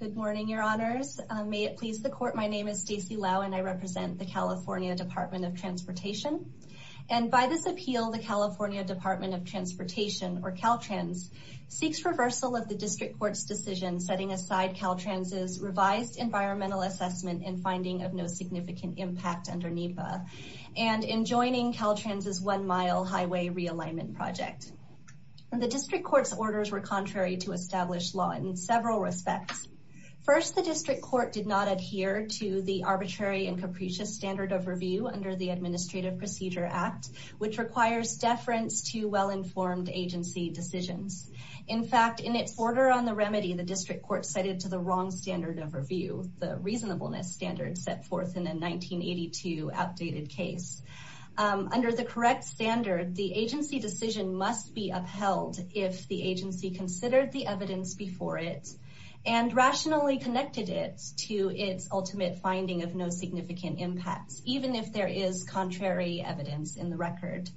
Good morning, your honors. May it please the court, my name is Stacy Lau and I represent the California Department of Transportation. And by this appeal, the California Department of Transportation, or Caltrans, seeks reversal of the District Court's decision setting aside Caltrans' revised environmental assessment and finding of no significant impact under NEPA, and in joining Caltrans' one-mile highway realignment project. The District Court's orders were contrary to established law in several respects. First, the District Court did not adhere to the arbitrary and capricious standard of review under the Administrative Procedure Act, which requires deference to well-informed agency decisions. In fact, in its order on the remedy, the District Court cited to the wrong standard of review, the reasonableness standard set forth in a 1982 outdated case. Under the correct standard, the agency decision must be upheld if the agency considered the evidence before it and rationally connected it to its ultimate finding of no significant impacts, even if there is contrary evidence in the record.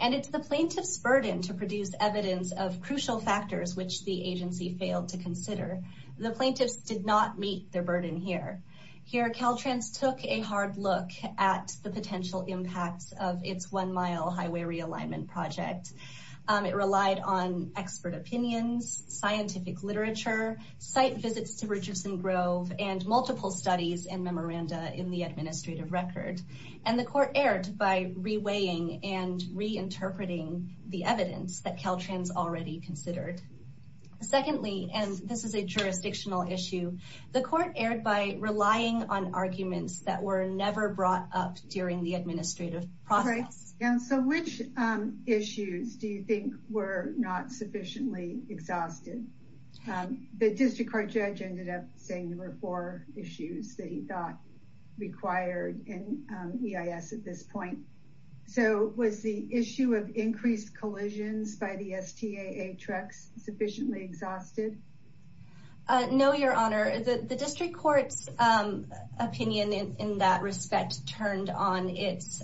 And it's the plaintiff's burden to produce evidence of crucial factors which the agency failed to consider. The plaintiffs did not meet their burden here. Here, Caltrans took a hard look at the potential impacts of its one-mile highway realignment project. It relied on expert opinions, scientific literature, site visits to Richardson Grove, and multiple studies and memoranda in the administrative record. And the court erred by reweighing and reinterpreting the evidence that Caltrans already considered. Secondly, and this is a jurisdictional issue, the court erred by relying on arguments that were never brought up during the administrative process. So which issues do you think were not sufficiently exhausted? The District Court judge ended up saying there were four issues that he thought required an EIS at this point. So was the issue of increased collisions by the STAA trucks sufficiently exhausted? No, Your Honor. The District Court's opinion in that respect turned on its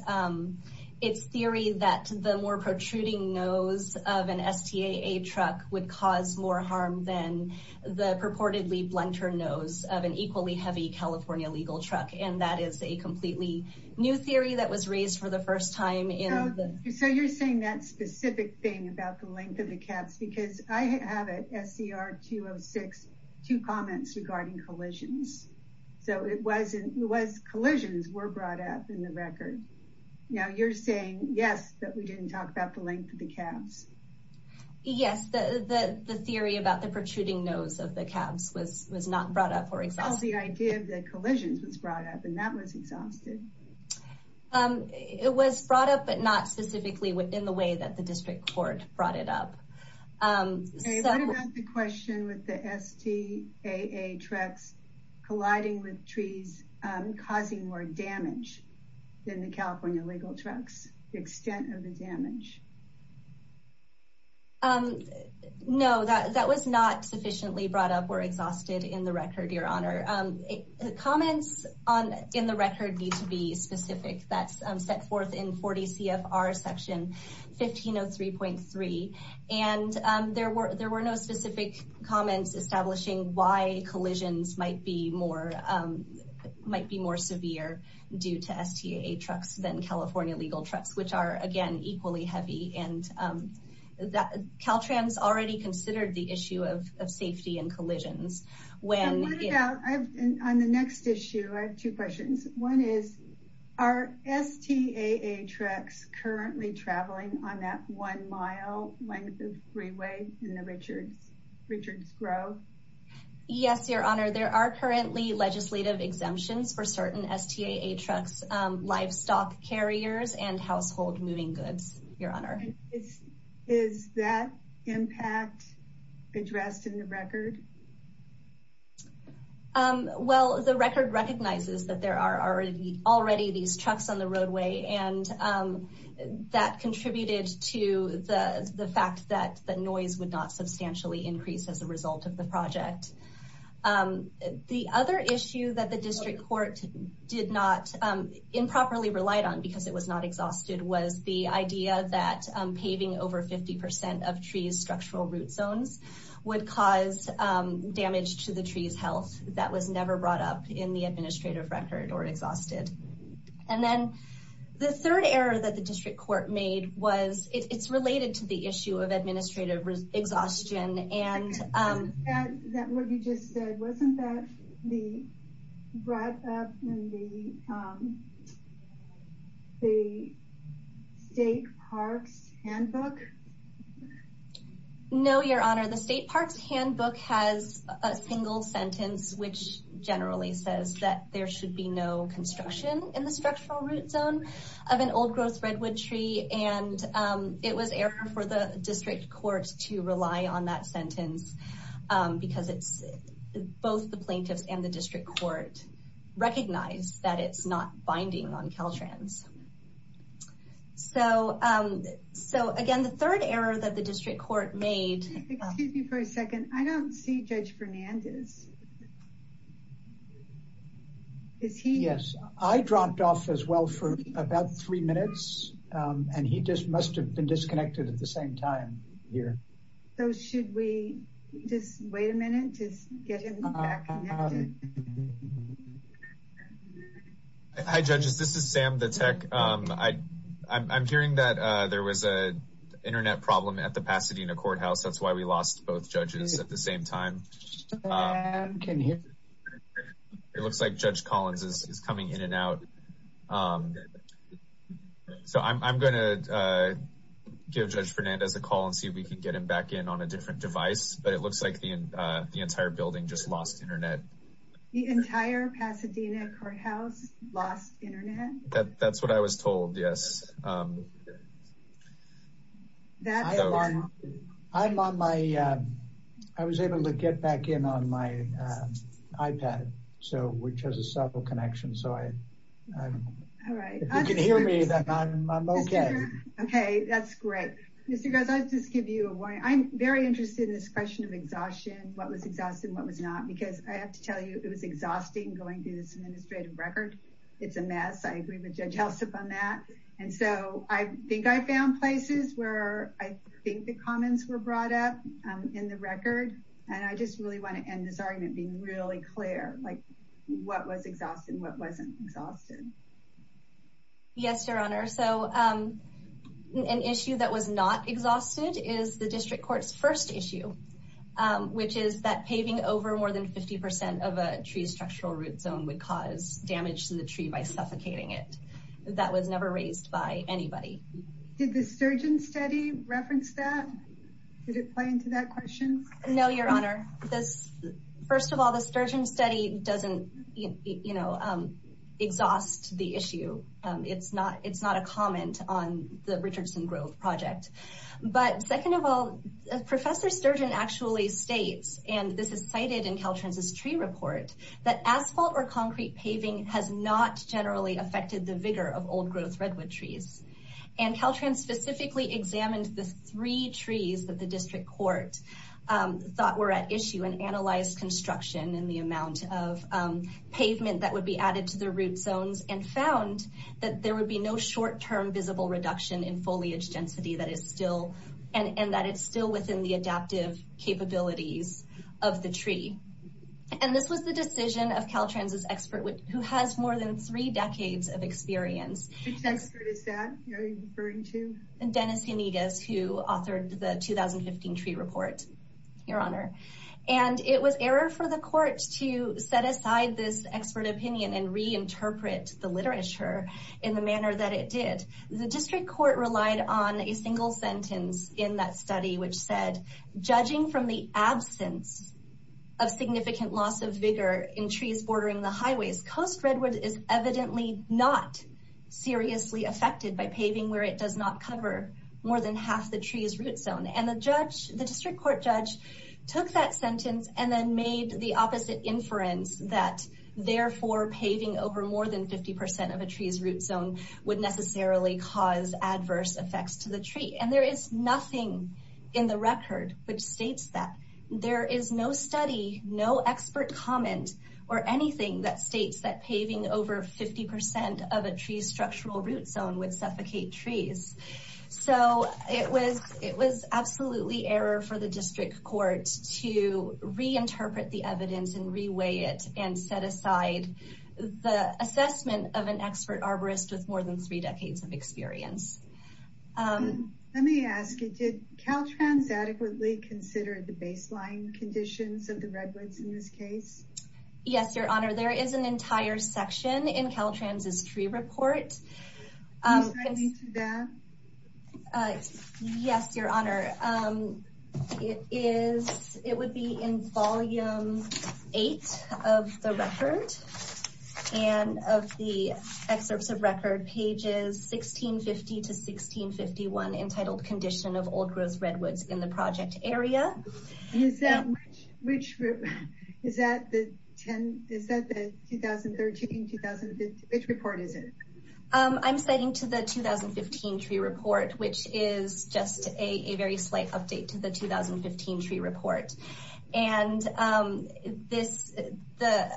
theory that the more protruding nose of an STAA truck would cause more harm than the purportedly blunter nose of an equally heavy California legal truck. And that is a completely new theory that was raised for the first time. So you're saying that specific thing about the caps, because I have at SCR 206, two comments regarding collisions. So it wasn't, collisions were brought up in the record. Now you're saying, yes, that we didn't talk about the length of the caps. Yes, the theory about the protruding nose of the caps was not brought up or exhausted. The idea of the collisions was brought up and that was exhausted. It was brought up, but not specifically within the way that the District Court brought it up. Okay, what about the question with the STAA trucks colliding with trees causing more damage than the California legal trucks, the extent of the damage? No, that was not sufficiently brought up or exhausted in the record, Your Honor. Comments in the record need to be specific. That's set forth in 40 CFR section 1503.3. There were no specific comments establishing why collisions might be more severe due to STAA trucks than California legal trucks, which are again, equally heavy. And Caltrans already considered the issue of safety and collisions. On the next issue, I have two questions. One is, are STAA trucks currently traveling on that one mile length of freeway in the Richards Grove? Yes, Your Honor. There are currently legislative exemptions for certain STAA trucks, livestock carriers, and household moving goods, Your Honor. Well, the record recognizes that there are already these trucks on the roadway, and that contributed to the fact that the noise would not substantially increase as a result of the project. The other issue that the District Court did not improperly relied on, because it was not exhausted, was the idea that paving over 50% of trees' structural root zones would cause damage to the trees' health. That was never brought up in the administrative record or exhausted. And then the third error that the District Court made was, it's related to the issue of administrative exhaustion, and... Was that what you just said? Wasn't that the wrap-up in the State Parks Handbook? No, Your Honor. The State Parks Handbook has a single sentence which generally says that there should be no construction in the structural root zone of an old-growth redwood tree. And it was error for the District Court to rely on that sentence, because both the plaintiffs and the District Court recognize that it's not binding on Caltrans. So, again, the third error that the District Court made... Excuse me for a second. I don't see Judge Fernandez. Is he... Yes, I dropped off as well for about three minutes, and he just must have been disconnected at the same time here. So should we just wait a minute to get him back connected? Hi, Judges. This is Sam, the tech. I'm hearing that there was a internet problem at the Pasadena Courthouse. That's why we lost both judges at the same time. It looks like Judge Collins is coming in and out. So I'm going to give Judge Fernandez a call and see if we can get him back in on a different device, but it looks like the entire building just lost internet. The entire Pasadena Courthouse lost internet? That's what I was told, yes. I was able to get back in on my iPad, which has a subtle connection, so if you can hear me, then I'm okay. Okay, that's great. Mr. Graz, I'll just give you a warning. I'm very interested in this question of exhaustion, what was exhausted and what was not, because I have to tell you, it was exhausting going through this administrative record. It's a mess. I agree with Judge Helsup on that, and so I think I found places where I think the comments were brought up in the record, and I just really want to end this argument being really clear, like what was exhausted and what wasn't exhausted. Yes, Your Honor. So an issue that was not exhausted is the district first issue, which is that paving over more than 50% of a tree's structural root zone would cause damage to the tree by suffocating it. That was never raised by anybody. Did the Sturgeon study reference that? Did it play into that question? No, Your Honor. First of all, the Sturgeon study doesn't exhaust the issue. It's not a comment on the Richardson Grove project, but second of all, Professor Sturgeon actually states, and this is cited in Caltrans's tree report, that asphalt or concrete paving has not generally affected the vigor of old-growth redwood trees, and Caltrans specifically examined the three trees that the district court thought were at issue and analyzed construction and the amount of pavement that would be added to the root zones and found that there would be no short-term visible reduction in foliage density and that it's still within the adaptive capabilities of the tree. And this was the decision of Caltrans's expert, who has more than three decades of experience. Which expert is that? Who are you referring to? Dennis Henigas, who authored the 2015 tree report, Your Honor. And it was error for the court to set aside this expert opinion and reinterpret the literature in the manner that it did. The district court relied on a single sentence in that study, which said, judging from the absence of significant loss of vigor in trees bordering the highways, coast redwood is evidently not seriously affected by paving where it does not cover more than half the tree's root zone. And the district court judge took that sentence and then made the opposite inference that, therefore, paving over more than 50% of a tree's root zone would necessarily cause adverse effects to the tree. And there is nothing in the record which states that. There is no study, no expert comment, or anything that states that paving over 50% of a tree's structural root zone would suffocate trees. So it was absolutely error for the district court to reinterpret the evidence and reweigh it and set aside the assessment of an expert arborist with more than three decades of experience. Let me ask you, did Caltrans adequately consider the baseline conditions of the redwoods in this case? Yes, Your Honor. There is an entire section in Caltrans' tree report. Can you cite me to that? Yes, Your Honor. It would be in volume eight of the record. And of the excerpts of record, pages 1650 to 1651, entitled Condition of Old-Growth Redwoods in the Project Area. Is that the 2013-2015? Which report is it? I'm citing to the 2015 tree report, which is just a very slight update to the 2015 tree report. And the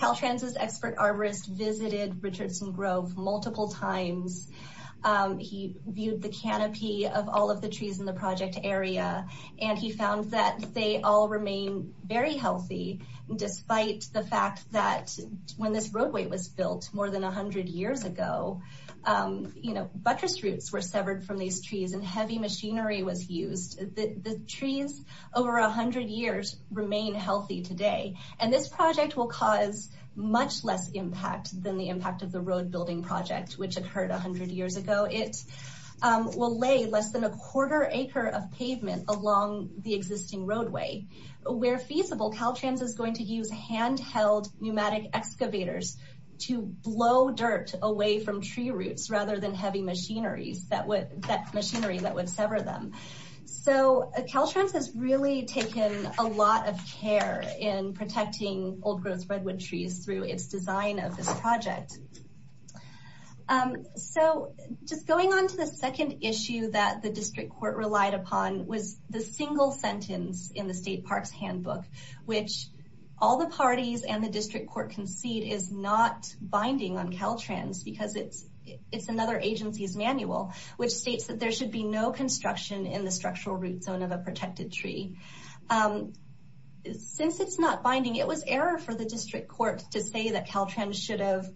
Caltrans' expert arborist visited Richardson Grove multiple times. He viewed the canopy of all of the trees in the project area. And he found that they all remain very healthy, despite the fact that when this roadway was built more than 100 years ago, buttress roots were severed from these trees and heavy machinery was used. The trees over 100 years remain healthy today. And this project will cause much less impact than the impact of the road it will lay less than a quarter acre of pavement along the existing roadway. Where feasible, Caltrans is going to use handheld pneumatic excavators to blow dirt away from tree roots, rather than heavy machinery that would sever them. So Caltrans has really taken a lot of care in protecting old-growth redwood trees through its design of this project. All right. So just going on to the second issue that the district court relied upon was the single sentence in the state parks handbook, which all the parties and the district court concede is not binding on Caltrans because it's another agency's manual, which states that there should be no construction in the structural root zone of a protected tree. Since it's not binding, it was error for the district court to say that Caltrans should have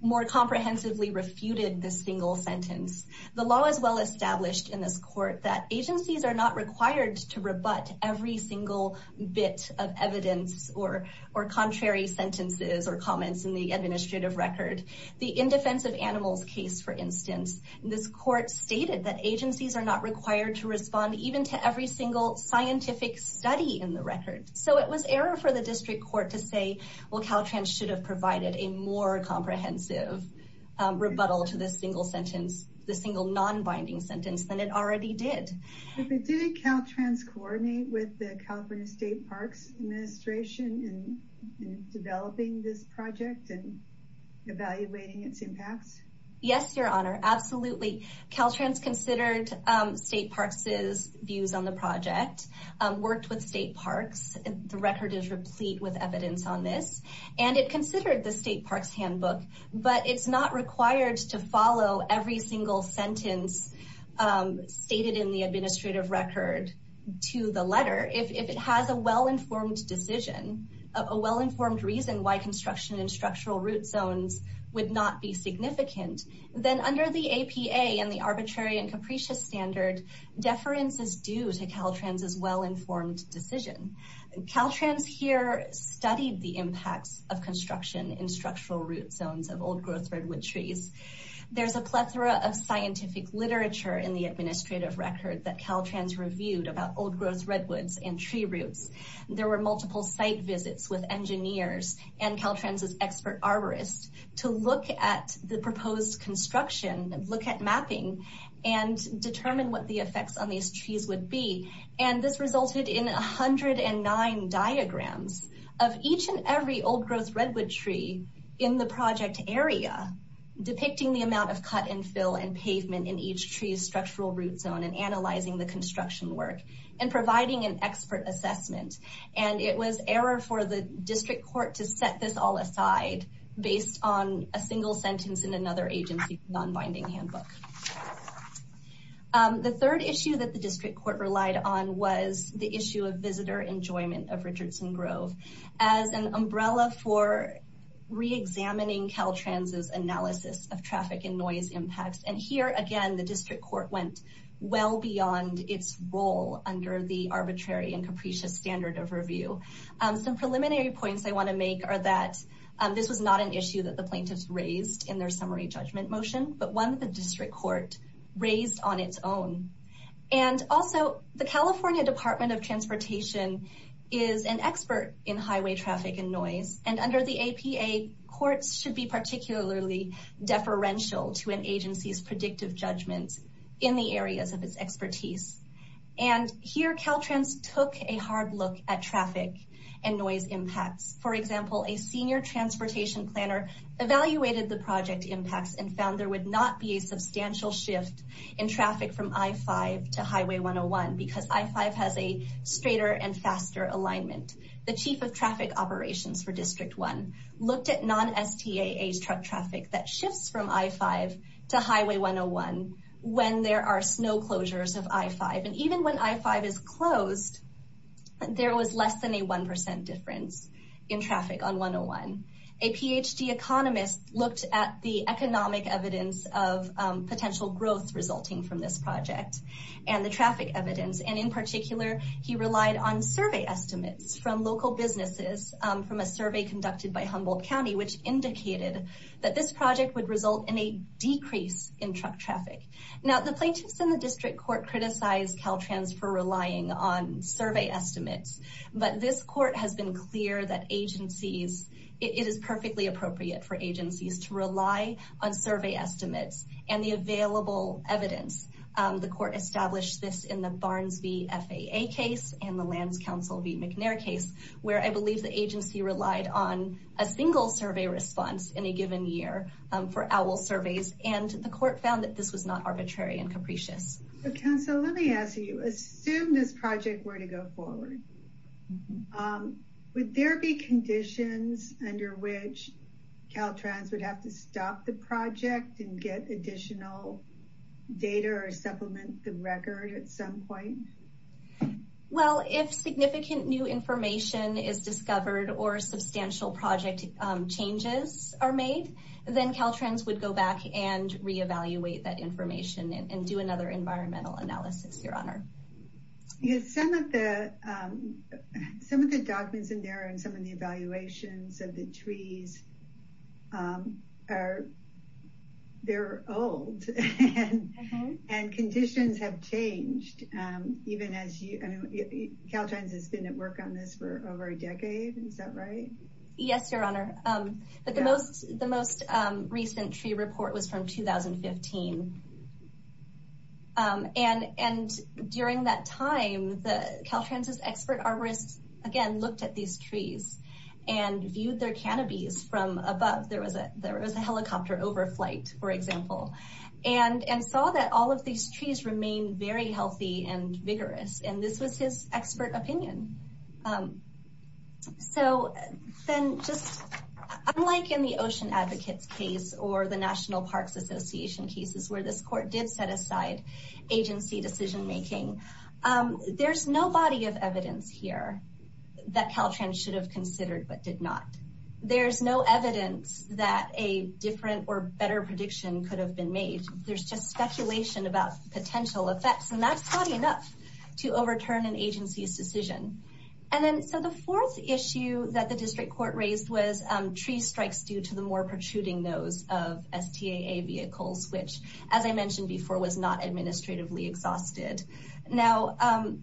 more comprehensively refuted the single sentence. The law is well-established in this court that agencies are not required to rebut every single bit of evidence or contrary sentences or comments in the administrative record. The indefensive animals case, for instance, this court stated that agencies are not required to So it was error for the district court to say, well, Caltrans should have provided a more comprehensive rebuttal to the single sentence, the single non-binding sentence than it already did. Did Caltrans coordinate with the California State Parks Administration in developing this project and evaluating its impacts? Yes, your honor. Absolutely. Caltrans considered state parks' views on the project, worked with state parks. The record is replete with evidence on this, and it considered the state parks handbook, but it's not required to follow every single sentence stated in the administrative record to the letter. If it has a well-informed decision, a well-informed reason why construction in structural root zones would not be significant, then under the APA and the arbitrary and capricious standard, deference is due to Caltrans' well-informed decision. Caltrans here studied the impacts of construction in structural root zones of old-growth redwood trees. There's a plethora of scientific literature in the administrative record that Caltrans reviewed about old-growth redwoods and tree roots. There were multiple site visits with engineers and Caltrans' expert arborists to look at the proposed construction, look at mapping, and determine what the effects on these trees would be. And this resulted in 109 diagrams of each and every old-growth redwood tree in the project area depicting the amount of cut and fill and pavement in each tree's structural root zone and analyzing the construction work and providing an expert assessment. And it was error for the district court to set this all aside based on a single sentence in another agency non-binding handbook. The third issue that the district court relied on was the issue of visitor enjoyment of Richardson Grove as an umbrella for re-examining Caltrans' analysis of traffic and noise impacts. And here, the district court went well beyond its role under the arbitrary and capricious standard of review. Some preliminary points I want to make are that this was not an issue that the plaintiffs raised in their summary judgment motion, but one that the district court raised on its own. And also, the California Department of Transportation is an expert in highway traffic and noise. And under the APA, courts should be particularly deferential to an agency's judgments in the areas of its expertise. And here, Caltrans took a hard look at traffic and noise impacts. For example, a senior transportation planner evaluated the project impacts and found there would not be a substantial shift in traffic from I-5 to Highway 101 because I-5 has a straighter and faster alignment. The chief of traffic operations for District 1 looked at non-STA age truck traffic that shifts from I-5 to Highway 101 when there are snow closures of I-5. And even when I-5 is closed, there was less than a 1% difference in traffic on 101. A PhD economist looked at the economic evidence of potential growth resulting from this project and the traffic evidence. And in particular, he relied on survey estimates from local businesses from a survey conducted by Humboldt County, which indicated that this project would result in a decrease in truck traffic. Now, the plaintiffs in the district court criticized Caltrans for relying on survey estimates. But this court has been clear that it is perfectly appropriate for agencies to rely on survey estimates and the available evidence. The court established this in the agency relied on a single survey response in a given year for OWL surveys. And the court found that this was not arbitrary and capricious. Council, let me ask you, assume this project were to go forward, would there be conditions under which Caltrans would have to stop the project and get additional data or supplement the record at some point? Well, if significant new information is discovered or substantial project changes are made, then Caltrans would go back and re-evaluate that information and do another environmental analysis, your honor. Yes, some of the documents in there and some of the evaluations of the trees are, they're old and conditions have changed. Caltrans has been at work on this for over a decade. Is that right? Yes, your honor. But the most recent tree report was from 2015. And during that time, Caltrans' expert arborists again looked at these trees and viewed their canopies from above. There was a helicopter overflight, for example, and saw that all of these trees remained very healthy and vigorous. And this was his expert opinion. So then just unlike in the Ocean Advocates case or the National Parks Association cases where this court did set aside agency decision-making, there's no body of evidence here that Caltrans should have considered but did not. There's no evidence that a different or better prediction could have been made. There's just speculation about potential effects and that's not enough to overturn an agency's decision. And then, so the fourth issue that the district court raised was tree strikes due to the more protruding nose of STAA vehicles, which as I mentioned before, was not administratively exhausted. Now,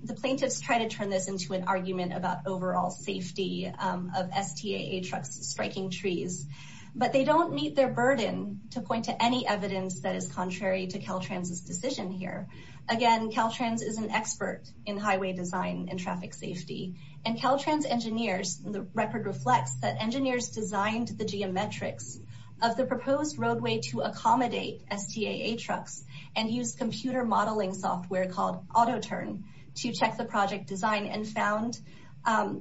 the plaintiffs try to turn this into an argument about overall safety of STAA trucks striking trees, but they don't meet their burden to point to any evidence that is contrary to Caltrans' decision here. Again, Caltrans is an expert in highway design and traffic safety. And Caltrans engineers, the record reflects that engineers designed the geometrics of the proposed roadway to accommodate STAA trucks and use computer modeling software called Auto-Turn to check the project design and found,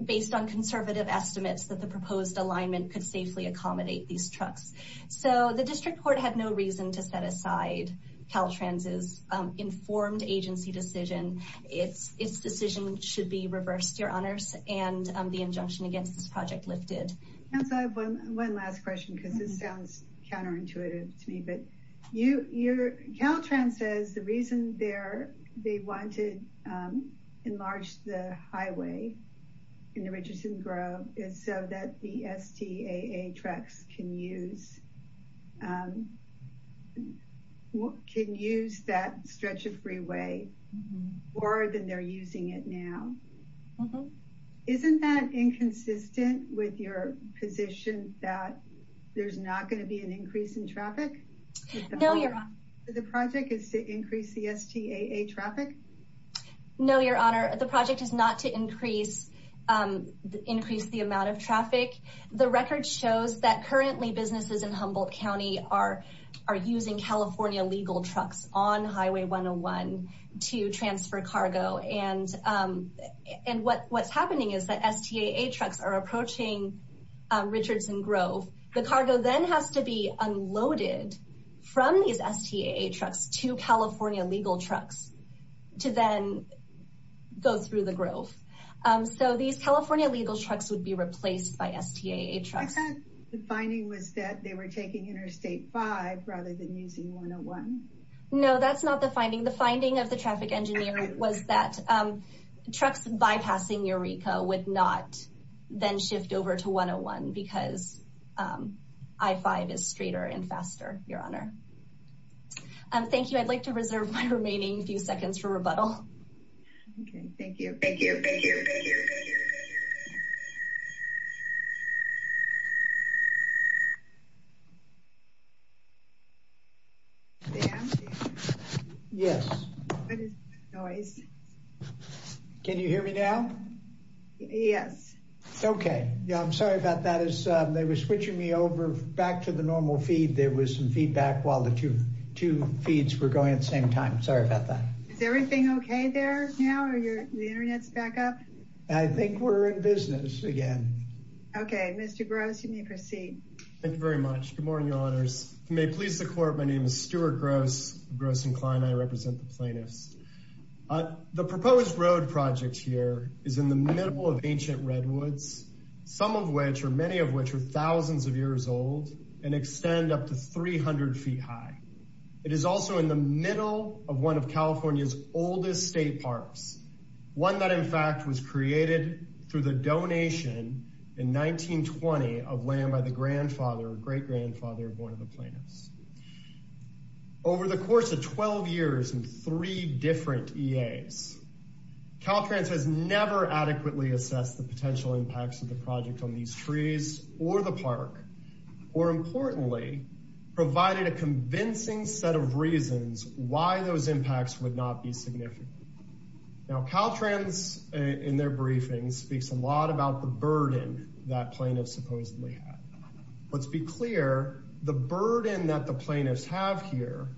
based on conservative estimates, that the proposed alignment could safely accommodate these trucks. So the district court had no reason to set aside Caltrans' informed agency decision. Its decision should be reversed, your honors, and the injunction against this project lifted. Council, I have one last question because this sounds counterintuitive to me, but you, your, Caltrans says the reason they're, they wanted enlarge the highway in the Richardson Grove is so that the STAA trucks can use, can use that stretch of freeway more than they're using it now. Mm-hmm. Isn't that inconsistent with your position that there's not going to be an increase in traffic? No, your honor. The project is to increase the STAA traffic? No, your honor. The project is not to increase, increase the amount of traffic. The record shows that currently businesses in Humboldt County are, are using California legal trucks on Highway 101 to transfer cargo. And, and what, what's happening is that STAA trucks are approaching Richardson Grove. The cargo then has to be unloaded from these STAA trucks to California legal trucks to then go through the Grove. So these California legal trucks would be replaced by STAA trucks. I thought the finding was that they were taking Interstate 5 rather than using 101. No, that's not the finding. The finding of the traffic engineer was that trucks bypassing Eureka would not then shift over to 101 because I-5 is straighter and faster, your honor. Thank you. I'd like to reserve my remaining few seconds for rebuttal. Okay. Thank you. Thank you. Thank you. Thank you. Dan? Yes. What is that noise? Can you hear me now? Yes. Okay. Yeah. I'm sorry about that. As they were switching me over back to the normal feed, there was some feedback while the two, two feeds were going at the same time. Sorry about that. Is everything okay there now? Are your, the internet's back up? I think we're in business again. Okay. Mr. Gross, you may proceed. Thank you very much. Good morning, your honors. If you may please the court, my name is Stuart Gross, Gross and Klein. I represent the plaintiffs. The proposed road project here is in the middle of ancient redwoods, some of which, or many of which, are thousands of years old and extend up to 300 feet high. It is also in the middle of one of California's oldest state parks, one that in fact was created through the donation in 1920 of land by the grandfather, great-grandfather of one of the plaintiffs. Over the course of 12 years and three different EAs, Caltrans has never adequately assessed the potential impacts of the project on these trees or the park, or importantly, provided a convincing set of reasons why those impacts would not be significant. Now Caltrans, in their briefings, speaks a lot about the burden that plaintiffs supposedly have. Let's be clear, the burden that the plaintiffs have here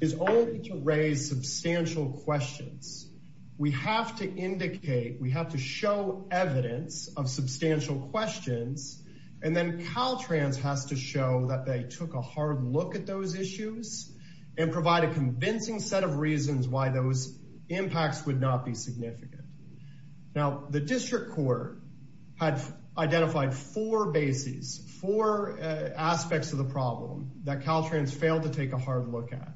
is only to raise substantial questions. We have to indicate, we have to show evidence of substantial questions, and then Caltrans has to show that they took a hard look at those issues and provide a convincing set of reasons why those impacts would not be significant. Now the district court had identified four bases, four aspects of the problem that Caltrans failed to take a hard look at.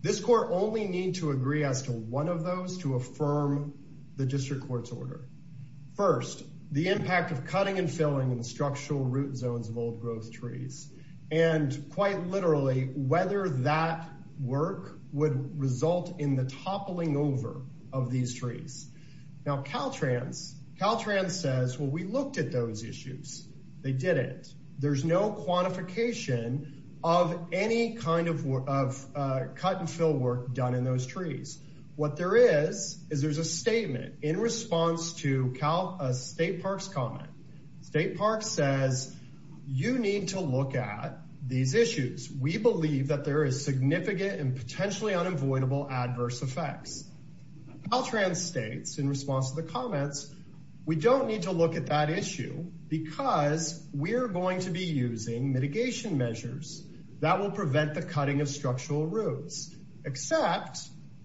This court only need to agree as to one of those to affirm the district court's order. First, the impact of cutting and filling in the structural root zones of old growth trees, and quite literally, whether that work would result in the toppling over of these trees. Now Caltrans says, well we looked at those issues, they didn't. There's no quantification of any kind of cut and fill work done in those trees. What there is, is there's a statement in response to a State Parks comment. State Parks says, you need to look at these issues. We believe that there is significant and potentially unavoidable adverse effects. Caltrans states in response to the comments, we don't need to look at that issue because we're going to be using mitigation measures that will prevent the cutting of structural roots, except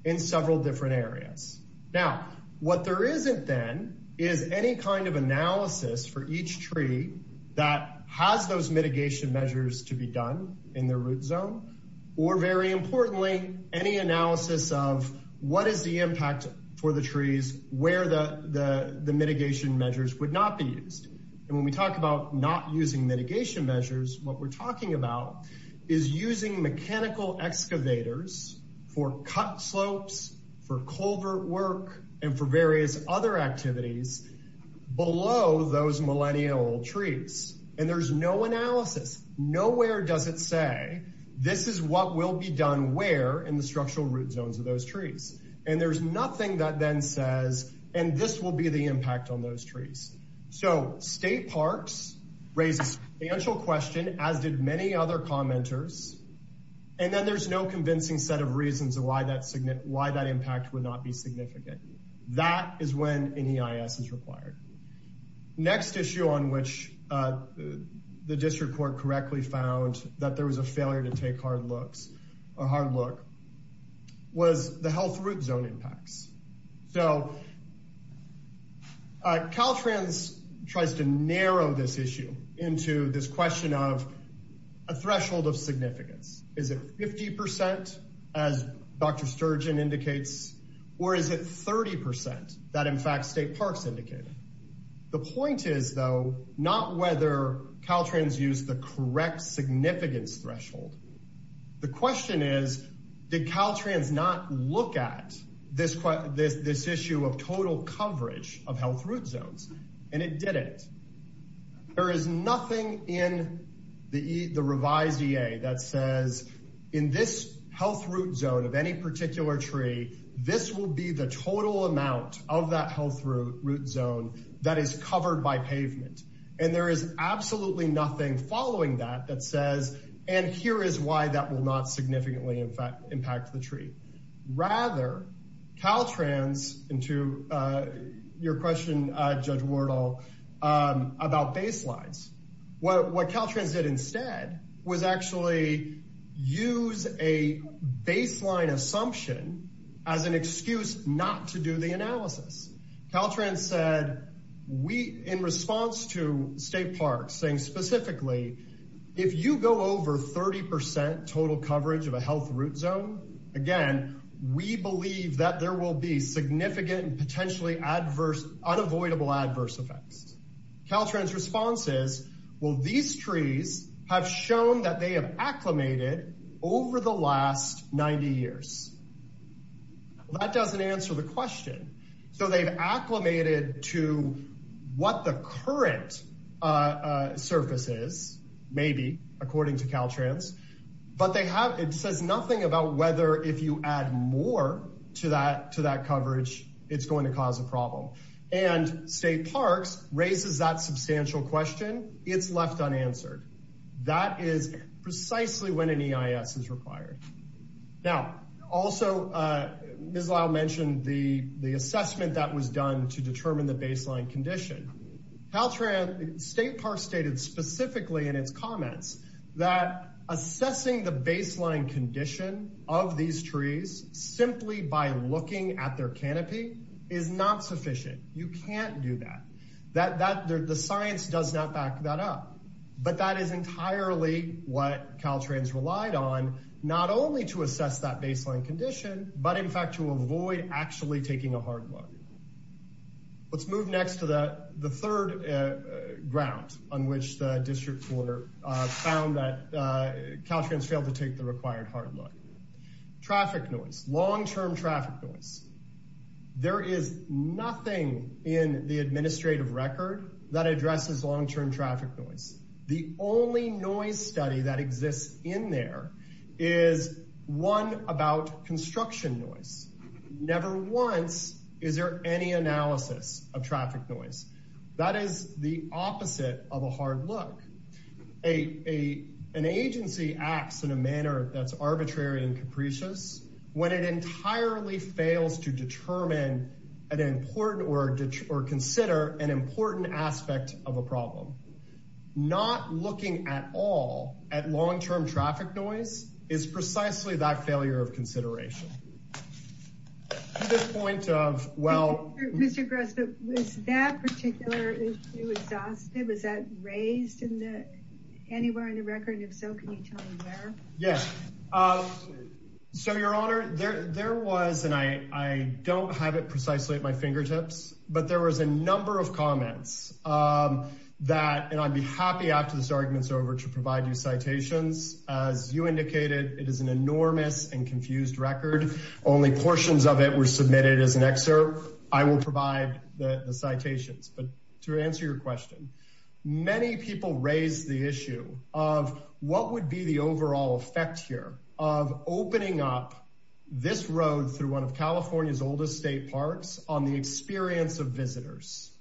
in several different areas. Now what there isn't then, is any kind of analysis for each tree that has those mitigation measures to be done in their root zone, or very importantly, any analysis of what is the impact for the trees where the mitigation measures would not be used. And when we talk about not using mitigation measures, what we're talking about is using mechanical excavators for cut slopes, for culvert work, and for various other activities below those millennial trees. And there's no analysis. Nowhere does it say, this is what will be done where in the structural root zones of those trees. And there's nothing that then says, and this will be the impact on those trees. So State Parks raises a question, as did many other commenters, and then there's no convincing set of reasons why that impact would not be significant. That is when NEIS is required. Next issue on which the district court correctly found that there was a failure to take a hard look, was the health root zone impacts. So Caltrans tries to narrow this issue into this question of a threshold of significance. Is it 50%, as Dr. Sturgeon indicates, or is it 30% that in fact, State Parks indicated? The point is though, not whether Caltrans used the correct significance threshold. The question is, did Caltrans not look at this issue of total coverage of health root zones? And it didn't. There is nothing in the revised EA that says in this health root zone of any particular tree, this will be the total amount of that health root zone that is covered by pavement. And there is absolutely nothing following that that says, and here is why that will not judge Wardle about baselines. What Caltrans did instead was actually use a baseline assumption as an excuse not to do the analysis. Caltrans said, in response to State Parks saying specifically, if you go over 30% total coverage of a health root zone, again, we believe that there will be significant and potentially adverse, unavoidable adverse effects. Caltrans' response is, well, these trees have shown that they have acclimated over the last 90 years. That doesn't answer the question. So they've acclimated to what the current surface is, maybe, according to Caltrans, but they have, it says nothing about whether if you add more to that coverage, it's going to cause a problem. And State Parks raises that substantial question. It's left unanswered. That is precisely when an EIS is required. Now, also, Ms. Lyle mentioned the assessment that was done to determine the baseline condition. Caltrans, State Parks stated specifically in its comments that assessing the baseline condition of these trees simply by looking at their canopy is not sufficient. You can't do that. The science does not back that up. But that is entirely what Caltrans relied on, not only to assess that baseline condition, but in fact, to avoid actually taking a hard look. Let's move next to the third ground on which the District Coorder found that Caltrans failed to take the required hard look. Traffic noise, long-term traffic noise. There is nothing in the administrative record that addresses long-term traffic noise. The only noise study that exists in there is one about construction noise. Never once is there any analysis of traffic noise. That is the opposite of a hard look. An agency acts in a manner that's arbitrary and capricious when it entirely fails to determine an important or consider an important aspect of a problem. Not looking at all at long-term traffic noise is precisely that failure of consideration. To the point of, well... Mr. Grossman, was that particular issue exhausted? Was that raised anywhere in the record? If so, can you tell me where? Yes. So, Your Honor, there was, and I don't have it precisely at my fingertips, but there was a number of comments that, and I'd be happy after this argument's over to provide you citations. As you indicated, it is an enormous and confused record. Only portions of it were submitted as an excerpt. I will provide the citations. But to answer your question, many people raised the issue of what would be the oldest state parks on the experience of visitors.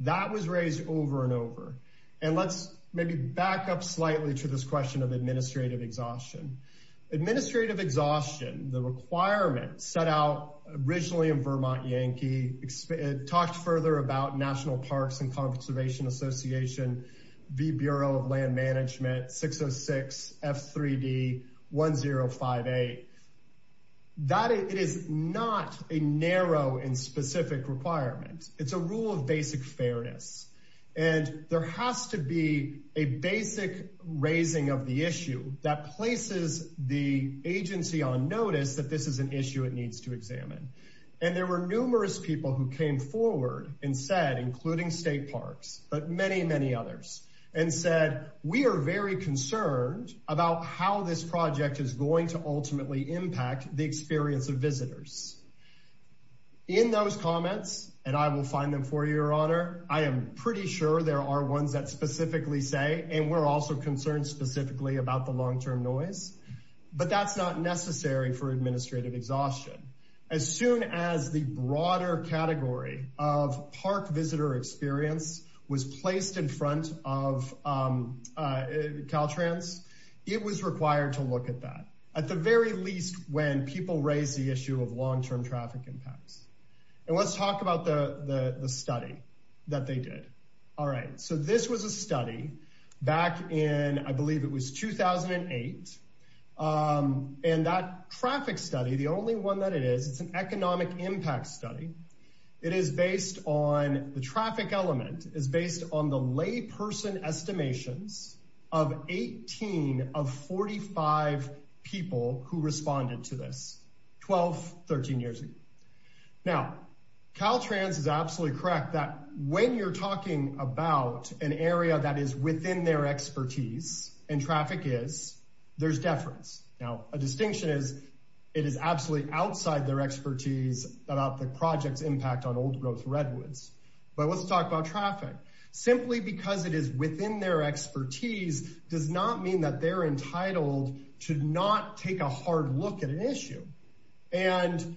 That was raised over and over. And let's maybe back up slightly to this question of administrative exhaustion. Administrative exhaustion, the requirement set out originally in Vermont Yankee, talked further about National Parks and Conservation Association, the Bureau of Land Management, 606 F3D1058. That is not a narrow and specific requirement. It's a rule of basic fairness. And there has to be a basic raising of the issue that places the agency on notice that this is an issue it needs to examine. And there were numerous people who came forward and said, including state parks, but many, many others, and said, we are very concerned about how this project is going to ultimately impact the experience of visitors. In those comments, and I will find them for your honor, I am pretty sure there are ones that specifically say, and we're also concerned specifically about the long-term noise. But that's not necessary for administrative exhaustion. As soon as the broader category of park visitor experience was placed in front of Caltrans, it was required to look at that. At the very least, when people raise the issue of long-term traffic impacts. And let's talk about the study that they did. All right. So this was a study back in, I believe it was 2008. And that traffic study, the only one that it is, it's an economic impact study. The traffic element is based on the lay person estimations of 18 of 45 people who responded to this 12, 13 years ago. Now, Caltrans is absolutely correct that when you're talking about an area that is within their expertise and traffic is, there's deference. Now, a distinction is it is absolutely outside their expertise about the project's impact on old growth redwoods. But let's talk about traffic. Simply because it is within their expertise does not mean that they're entitled to not take a hard look at an issue. And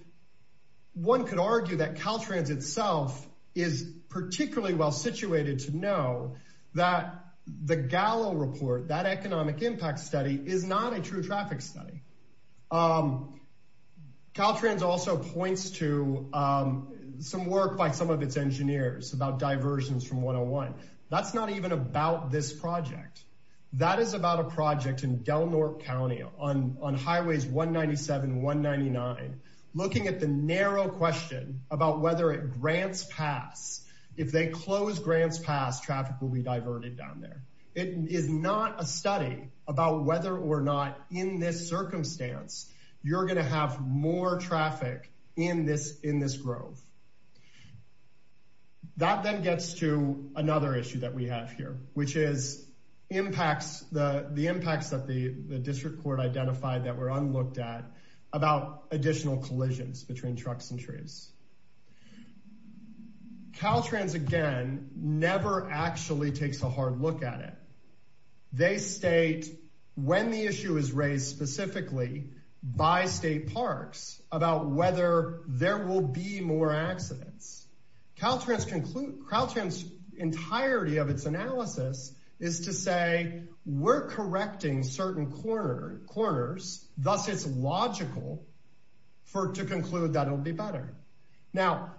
one could argue that Caltrans itself is particularly well situated to know that the Gallo report, that economic impact study, is not a true traffic study. Caltrans also points to some work by some of its engineers about diversions from 101. That's not even about this project. That is about a project in Del Norte County on highways 197, 199, looking at the narrow question about whether it grants pass. If they close grants pass, traffic will be diverted down there. It is not a study about whether or not in this circumstance, you're going to have more traffic in this grove. That then gets to another issue that we have here, which is impacts, the impacts that the district court identified that were unlooked at about additional collisions between trucks and trees. Caltrans, again, never actually takes a hard look at it. They state when the issue is more accidents. Caltrans' entirety of its analysis is to say, we're correcting certain corners, thus it's logical to conclude that it'll be better. Now,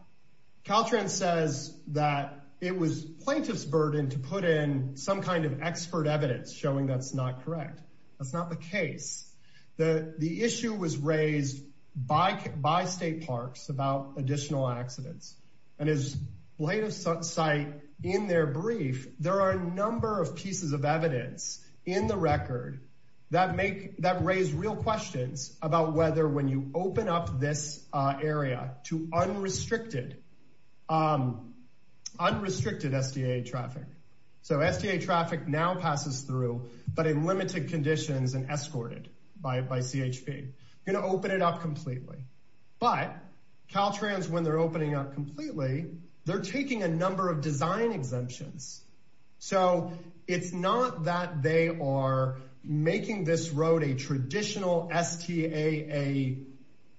Caltrans says that it was plaintiff's burden to put in some kind of expert evidence showing that's not correct. That's not the case. The issue was raised by state parks about additional accidents. As plaintiff's site in their brief, there are a number of pieces of evidence in the record that raise real questions about whether when you open up this area to unrestricted SDA traffic. So SDA traffic now escorted by CHP, going to open it up completely. But Caltrans, when they're opening up completely, they're taking a number of design exemptions. So it's not that they are making this road a traditional STAA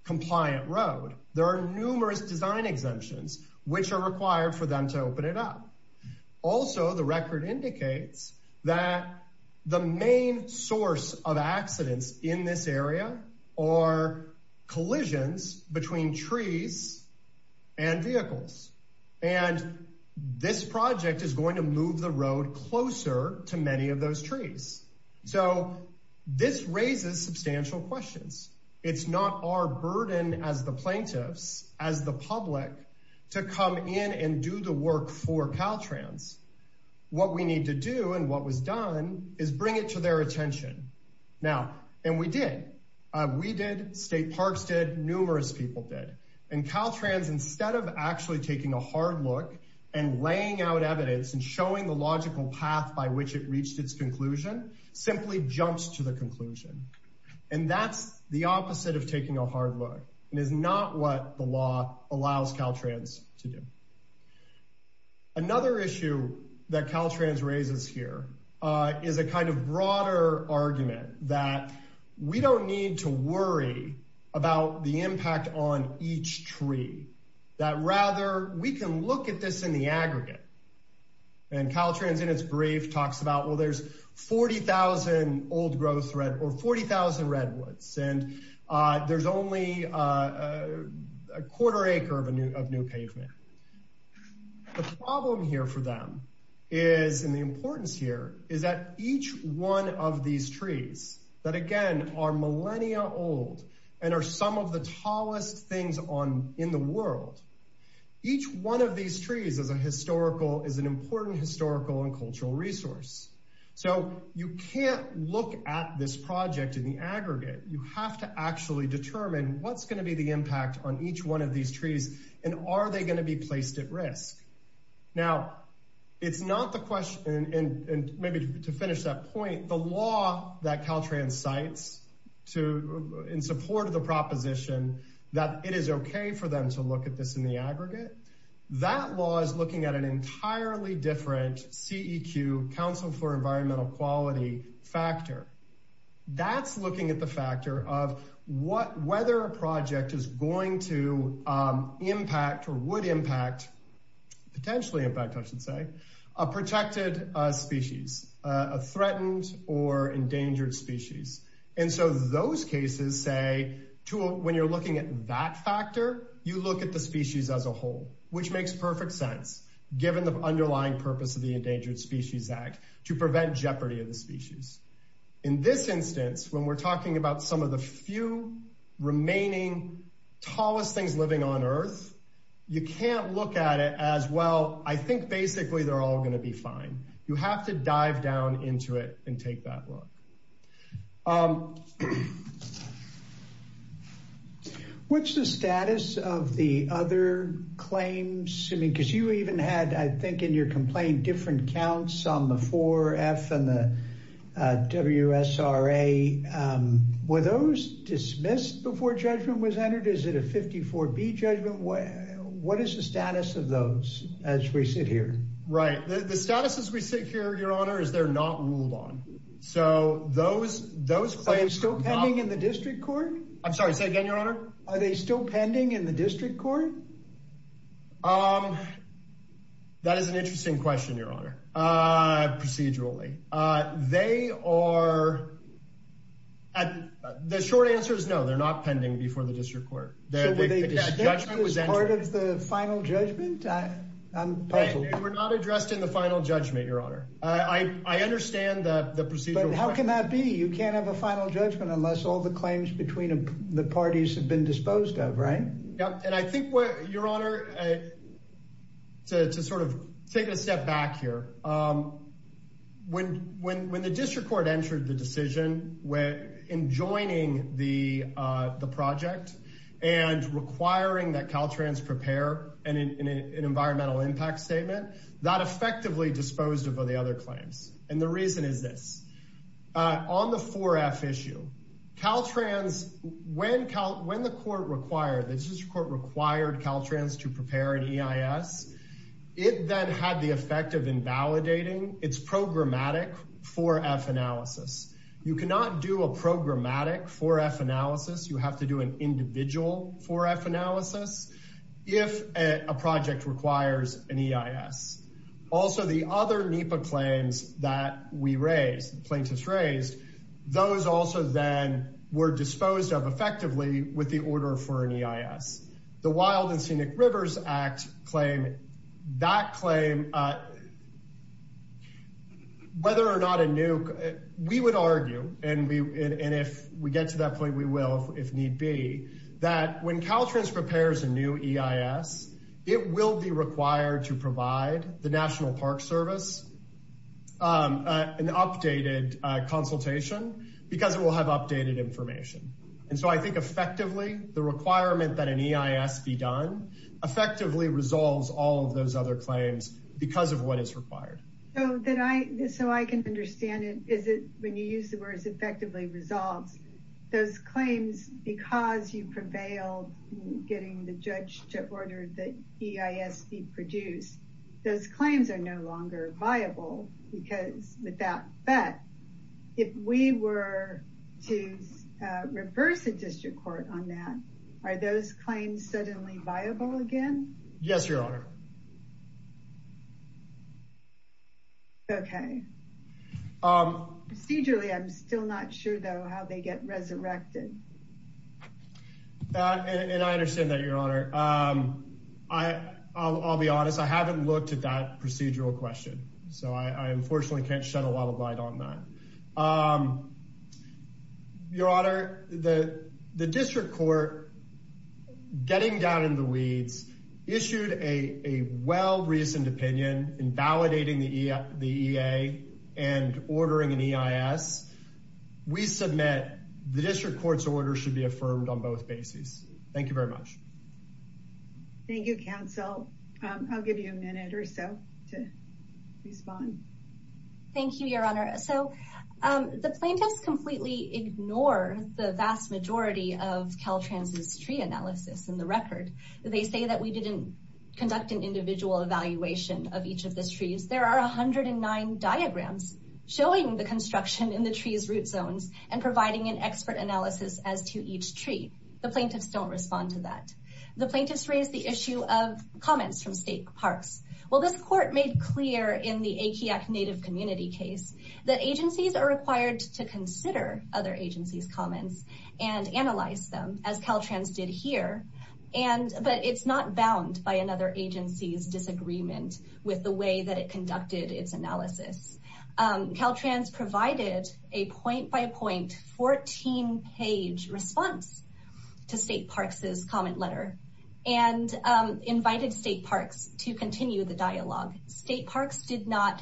compliant road. There are numerous design exemptions, which are required for them to in this area or collisions between trees and vehicles. And this project is going to move the road closer to many of those trees. So this raises substantial questions. It's not our burden as the plaintiffs, as the public to come in and do the work for Caltrans. What we need to do and what was done is bring it to their attention. Now, and we did. We did, state parks did, numerous people did. And Caltrans, instead of actually taking a hard look and laying out evidence and showing the logical path by which it reached its conclusion, simply jumps to the conclusion. And that's the opposite of taking a hard look and is not what the law allows Caltrans to do. Another issue that Caltrans raises here is a kind of broader argument that we don't need to worry about the impact on each tree, that rather we can look at this in the aggregate. And Caltrans in its brief talks about, well, there's 40,000 old growth or 40,000 redwoods, and there's only a quarter acre of new pavement. The problem here for them is, and the importance here, is that each one of these trees that again are millennia old and are some of the tallest things in the world, each one of these trees is an important historical and cultural resource. So you can't look at this project in the aggregate. You have to actually determine what's going to be the impact on each one of these trees, and are they going to be placed at risk? Now, it's not the question, and maybe to finish that point, the law that Caltrans cites in support of the proposition that it is okay for them to look at this in the aggregate, that law is looking at an entirely different CEQ, Council for Environmental Quality, factor. That's looking at the factor of whether a project is going to impact or would impact, potentially impact I should say, a protected species, a threatened or endangered species. And so those cases say, when you're looking at that factor, you look at the species as a whole, which makes perfect sense, given the underlying purpose of the Endangered Species Act, to prevent jeopardy of the species. In this instance, when we're talking about some of the few remaining tallest things living on earth, you can't look at it as, well, I think basically they're all going to be fine. You have to dive down into it and take that look. What's the status of the other claims? I mean, because you even had, I think in your complaint, different counts on the 4F and the WSRA. Were those dismissed before judgment was entered? Is it a 54B judgment? What is the status of those as we sit here? Right. The status as we sit here, your honor, is they're not ruled on. So those claims- Are they still pending in the district court? I'm sorry, say again, your honor. Are they still pending in the district court? That is an interesting question, your honor. Procedurally, they are, the short answer is no, they're not pending before the district court. So were they dismissed as part of the final judgment? I'm puzzled. They were not addressed in the final judgment, your honor. I understand the procedural- But how can that be? You can't have a final judgment unless all the claims between the parties have been disposed of, right? Yep. And I think what, your honor, to sort of take a step back here, when the district court entered the decision in joining the project and requiring that Caltrans prepare an environmental impact statement, that effectively disposed of the other Caltrans. When the court required, the district court required Caltrans to prepare an EIS, it then had the effect of invalidating its programmatic 4F analysis. You cannot do a programmatic 4F analysis. You have to do an individual 4F analysis if a project requires an EIS. Also, the other NEPA claims that we raised, plaintiffs raised, those also then were disposed of effectively with the order for an EIS. The Wild and Scenic Rivers Act claim, that claim, whether or not a new, we would argue, and if we get to that point, we will if need be, that when Caltrans prepares a new EIS, it will be required to provide the National Park Service an updated consultation because it will have updated information. And so I think effectively the requirement that an EIS be done effectively resolves all of those other claims because of what is required. So that I, so I can understand it, is it when you use the words effectively resolves, those claims, because you prevailed in getting the judge to order the EIS be produced, those claims are no longer viable because with that bet, if we were to reverse the district court on that, are those claims suddenly viable again? Yes, Your Honor. Okay. Procedurally, I'm still not sure though how they get resurrected. And I understand that, Your Honor. I'll be honest. I haven't looked at that procedural question. So I unfortunately can't shed a lot of light on that. Your Honor, the district court getting down in the weeds issued a well-reasoned opinion in validating the EIA and ordering an EIS. We submit the district court's order should be affirmed on both bases. Thank you very much. Thank you, counsel. I'll give you a minute or so to respond. Thank you, Your Honor. So the plaintiffs completely ignore the vast majority of Caltrans' tree analysis in the record. They say that we didn't conduct an individual evaluation of each of the trees. There are 109 diagrams showing the construction in the trees' root zones and providing an expert analysis as to each tree. The plaintiffs don't respond to that. The plaintiffs raised the issue of comments from state parks. Well, this court made clear in the Akiak Native Community case that agencies are required to consider other agencies' comments and analyze them as Caltrans did here. But it's not bound by another agency's disagreement with the way that it conducted its analysis. Caltrans provided a point-by-point 14-page response to state parks' comment letter and invited state parks to continue the dialogue. State parks did not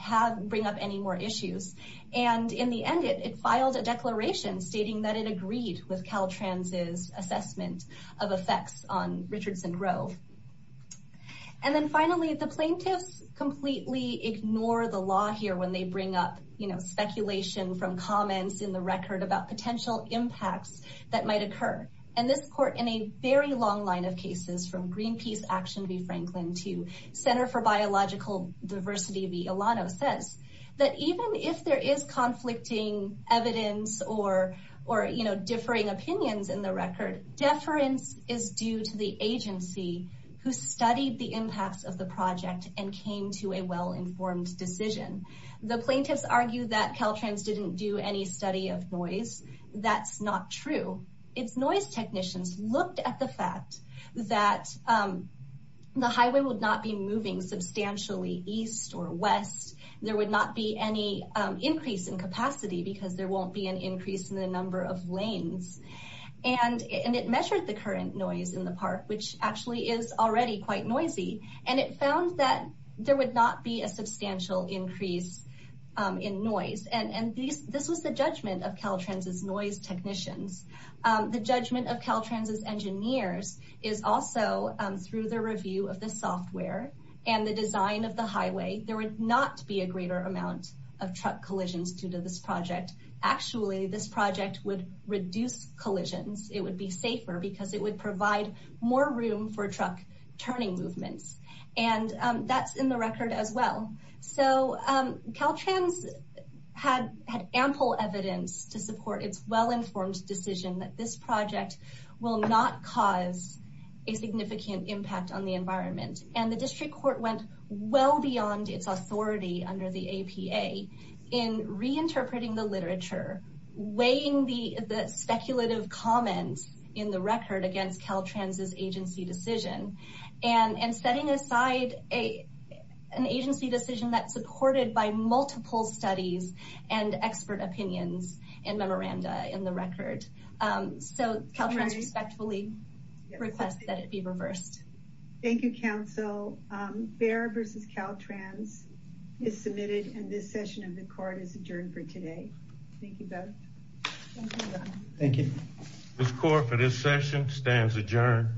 bring up any more issues. And in the end, it filed a declaration stating that it agreed with Caltrans' assessment of effects on Richardson Grove. And then finally, the plaintiffs completely ignore the law here when they bring up speculation from comments in the record about potential impacts that might occur. And this court, in a very long line of cases from Greenpeace Action v. Franklin to Center for Biological Diversity v. Elano, says that even if there is conflicting evidence or differing opinions in the record, deference is due to the agency who studied the impacts of the project and came to a well-informed decision. The plaintiffs argue that Caltrans didn't do any study of noise. That's not true. Its noise technicians looked at the fact that the highway would not be moving substantially east or west. There would not be any increase in capacity because there won't be an increase in the number of lanes. And it measured the current noise in the park, which actually is already quite noisy. And it found that there would not be a substantial increase in noise. And this was the judgment of Caltrans' noise technicians. The judgment of Caltrans' engineers is also through the review of the software and the design of the highway. There would not be a greater amount of truck collisions due to this project. Actually, this project would reduce collisions. It would be safer because it would provide more room for truck turning movements. And that's in the record as well. So Caltrans had ample evidence to support its well-informed decision that this project will not cause a significant impact on the environment. And the district court went well beyond its authority under the APA in reinterpreting the literature, weighing the speculative comments in the record against Caltrans' agency decision, and setting aside an agency decision that's supported by multiple studies and expert opinions and memoranda in the record. So Caltrans respectfully requests that it be reversed. Thank you, counsel. Behr v. Caltrans is submitted and this session of the court is adjourned for today. Thank you both. Thank you. This court for this session stands adjourned.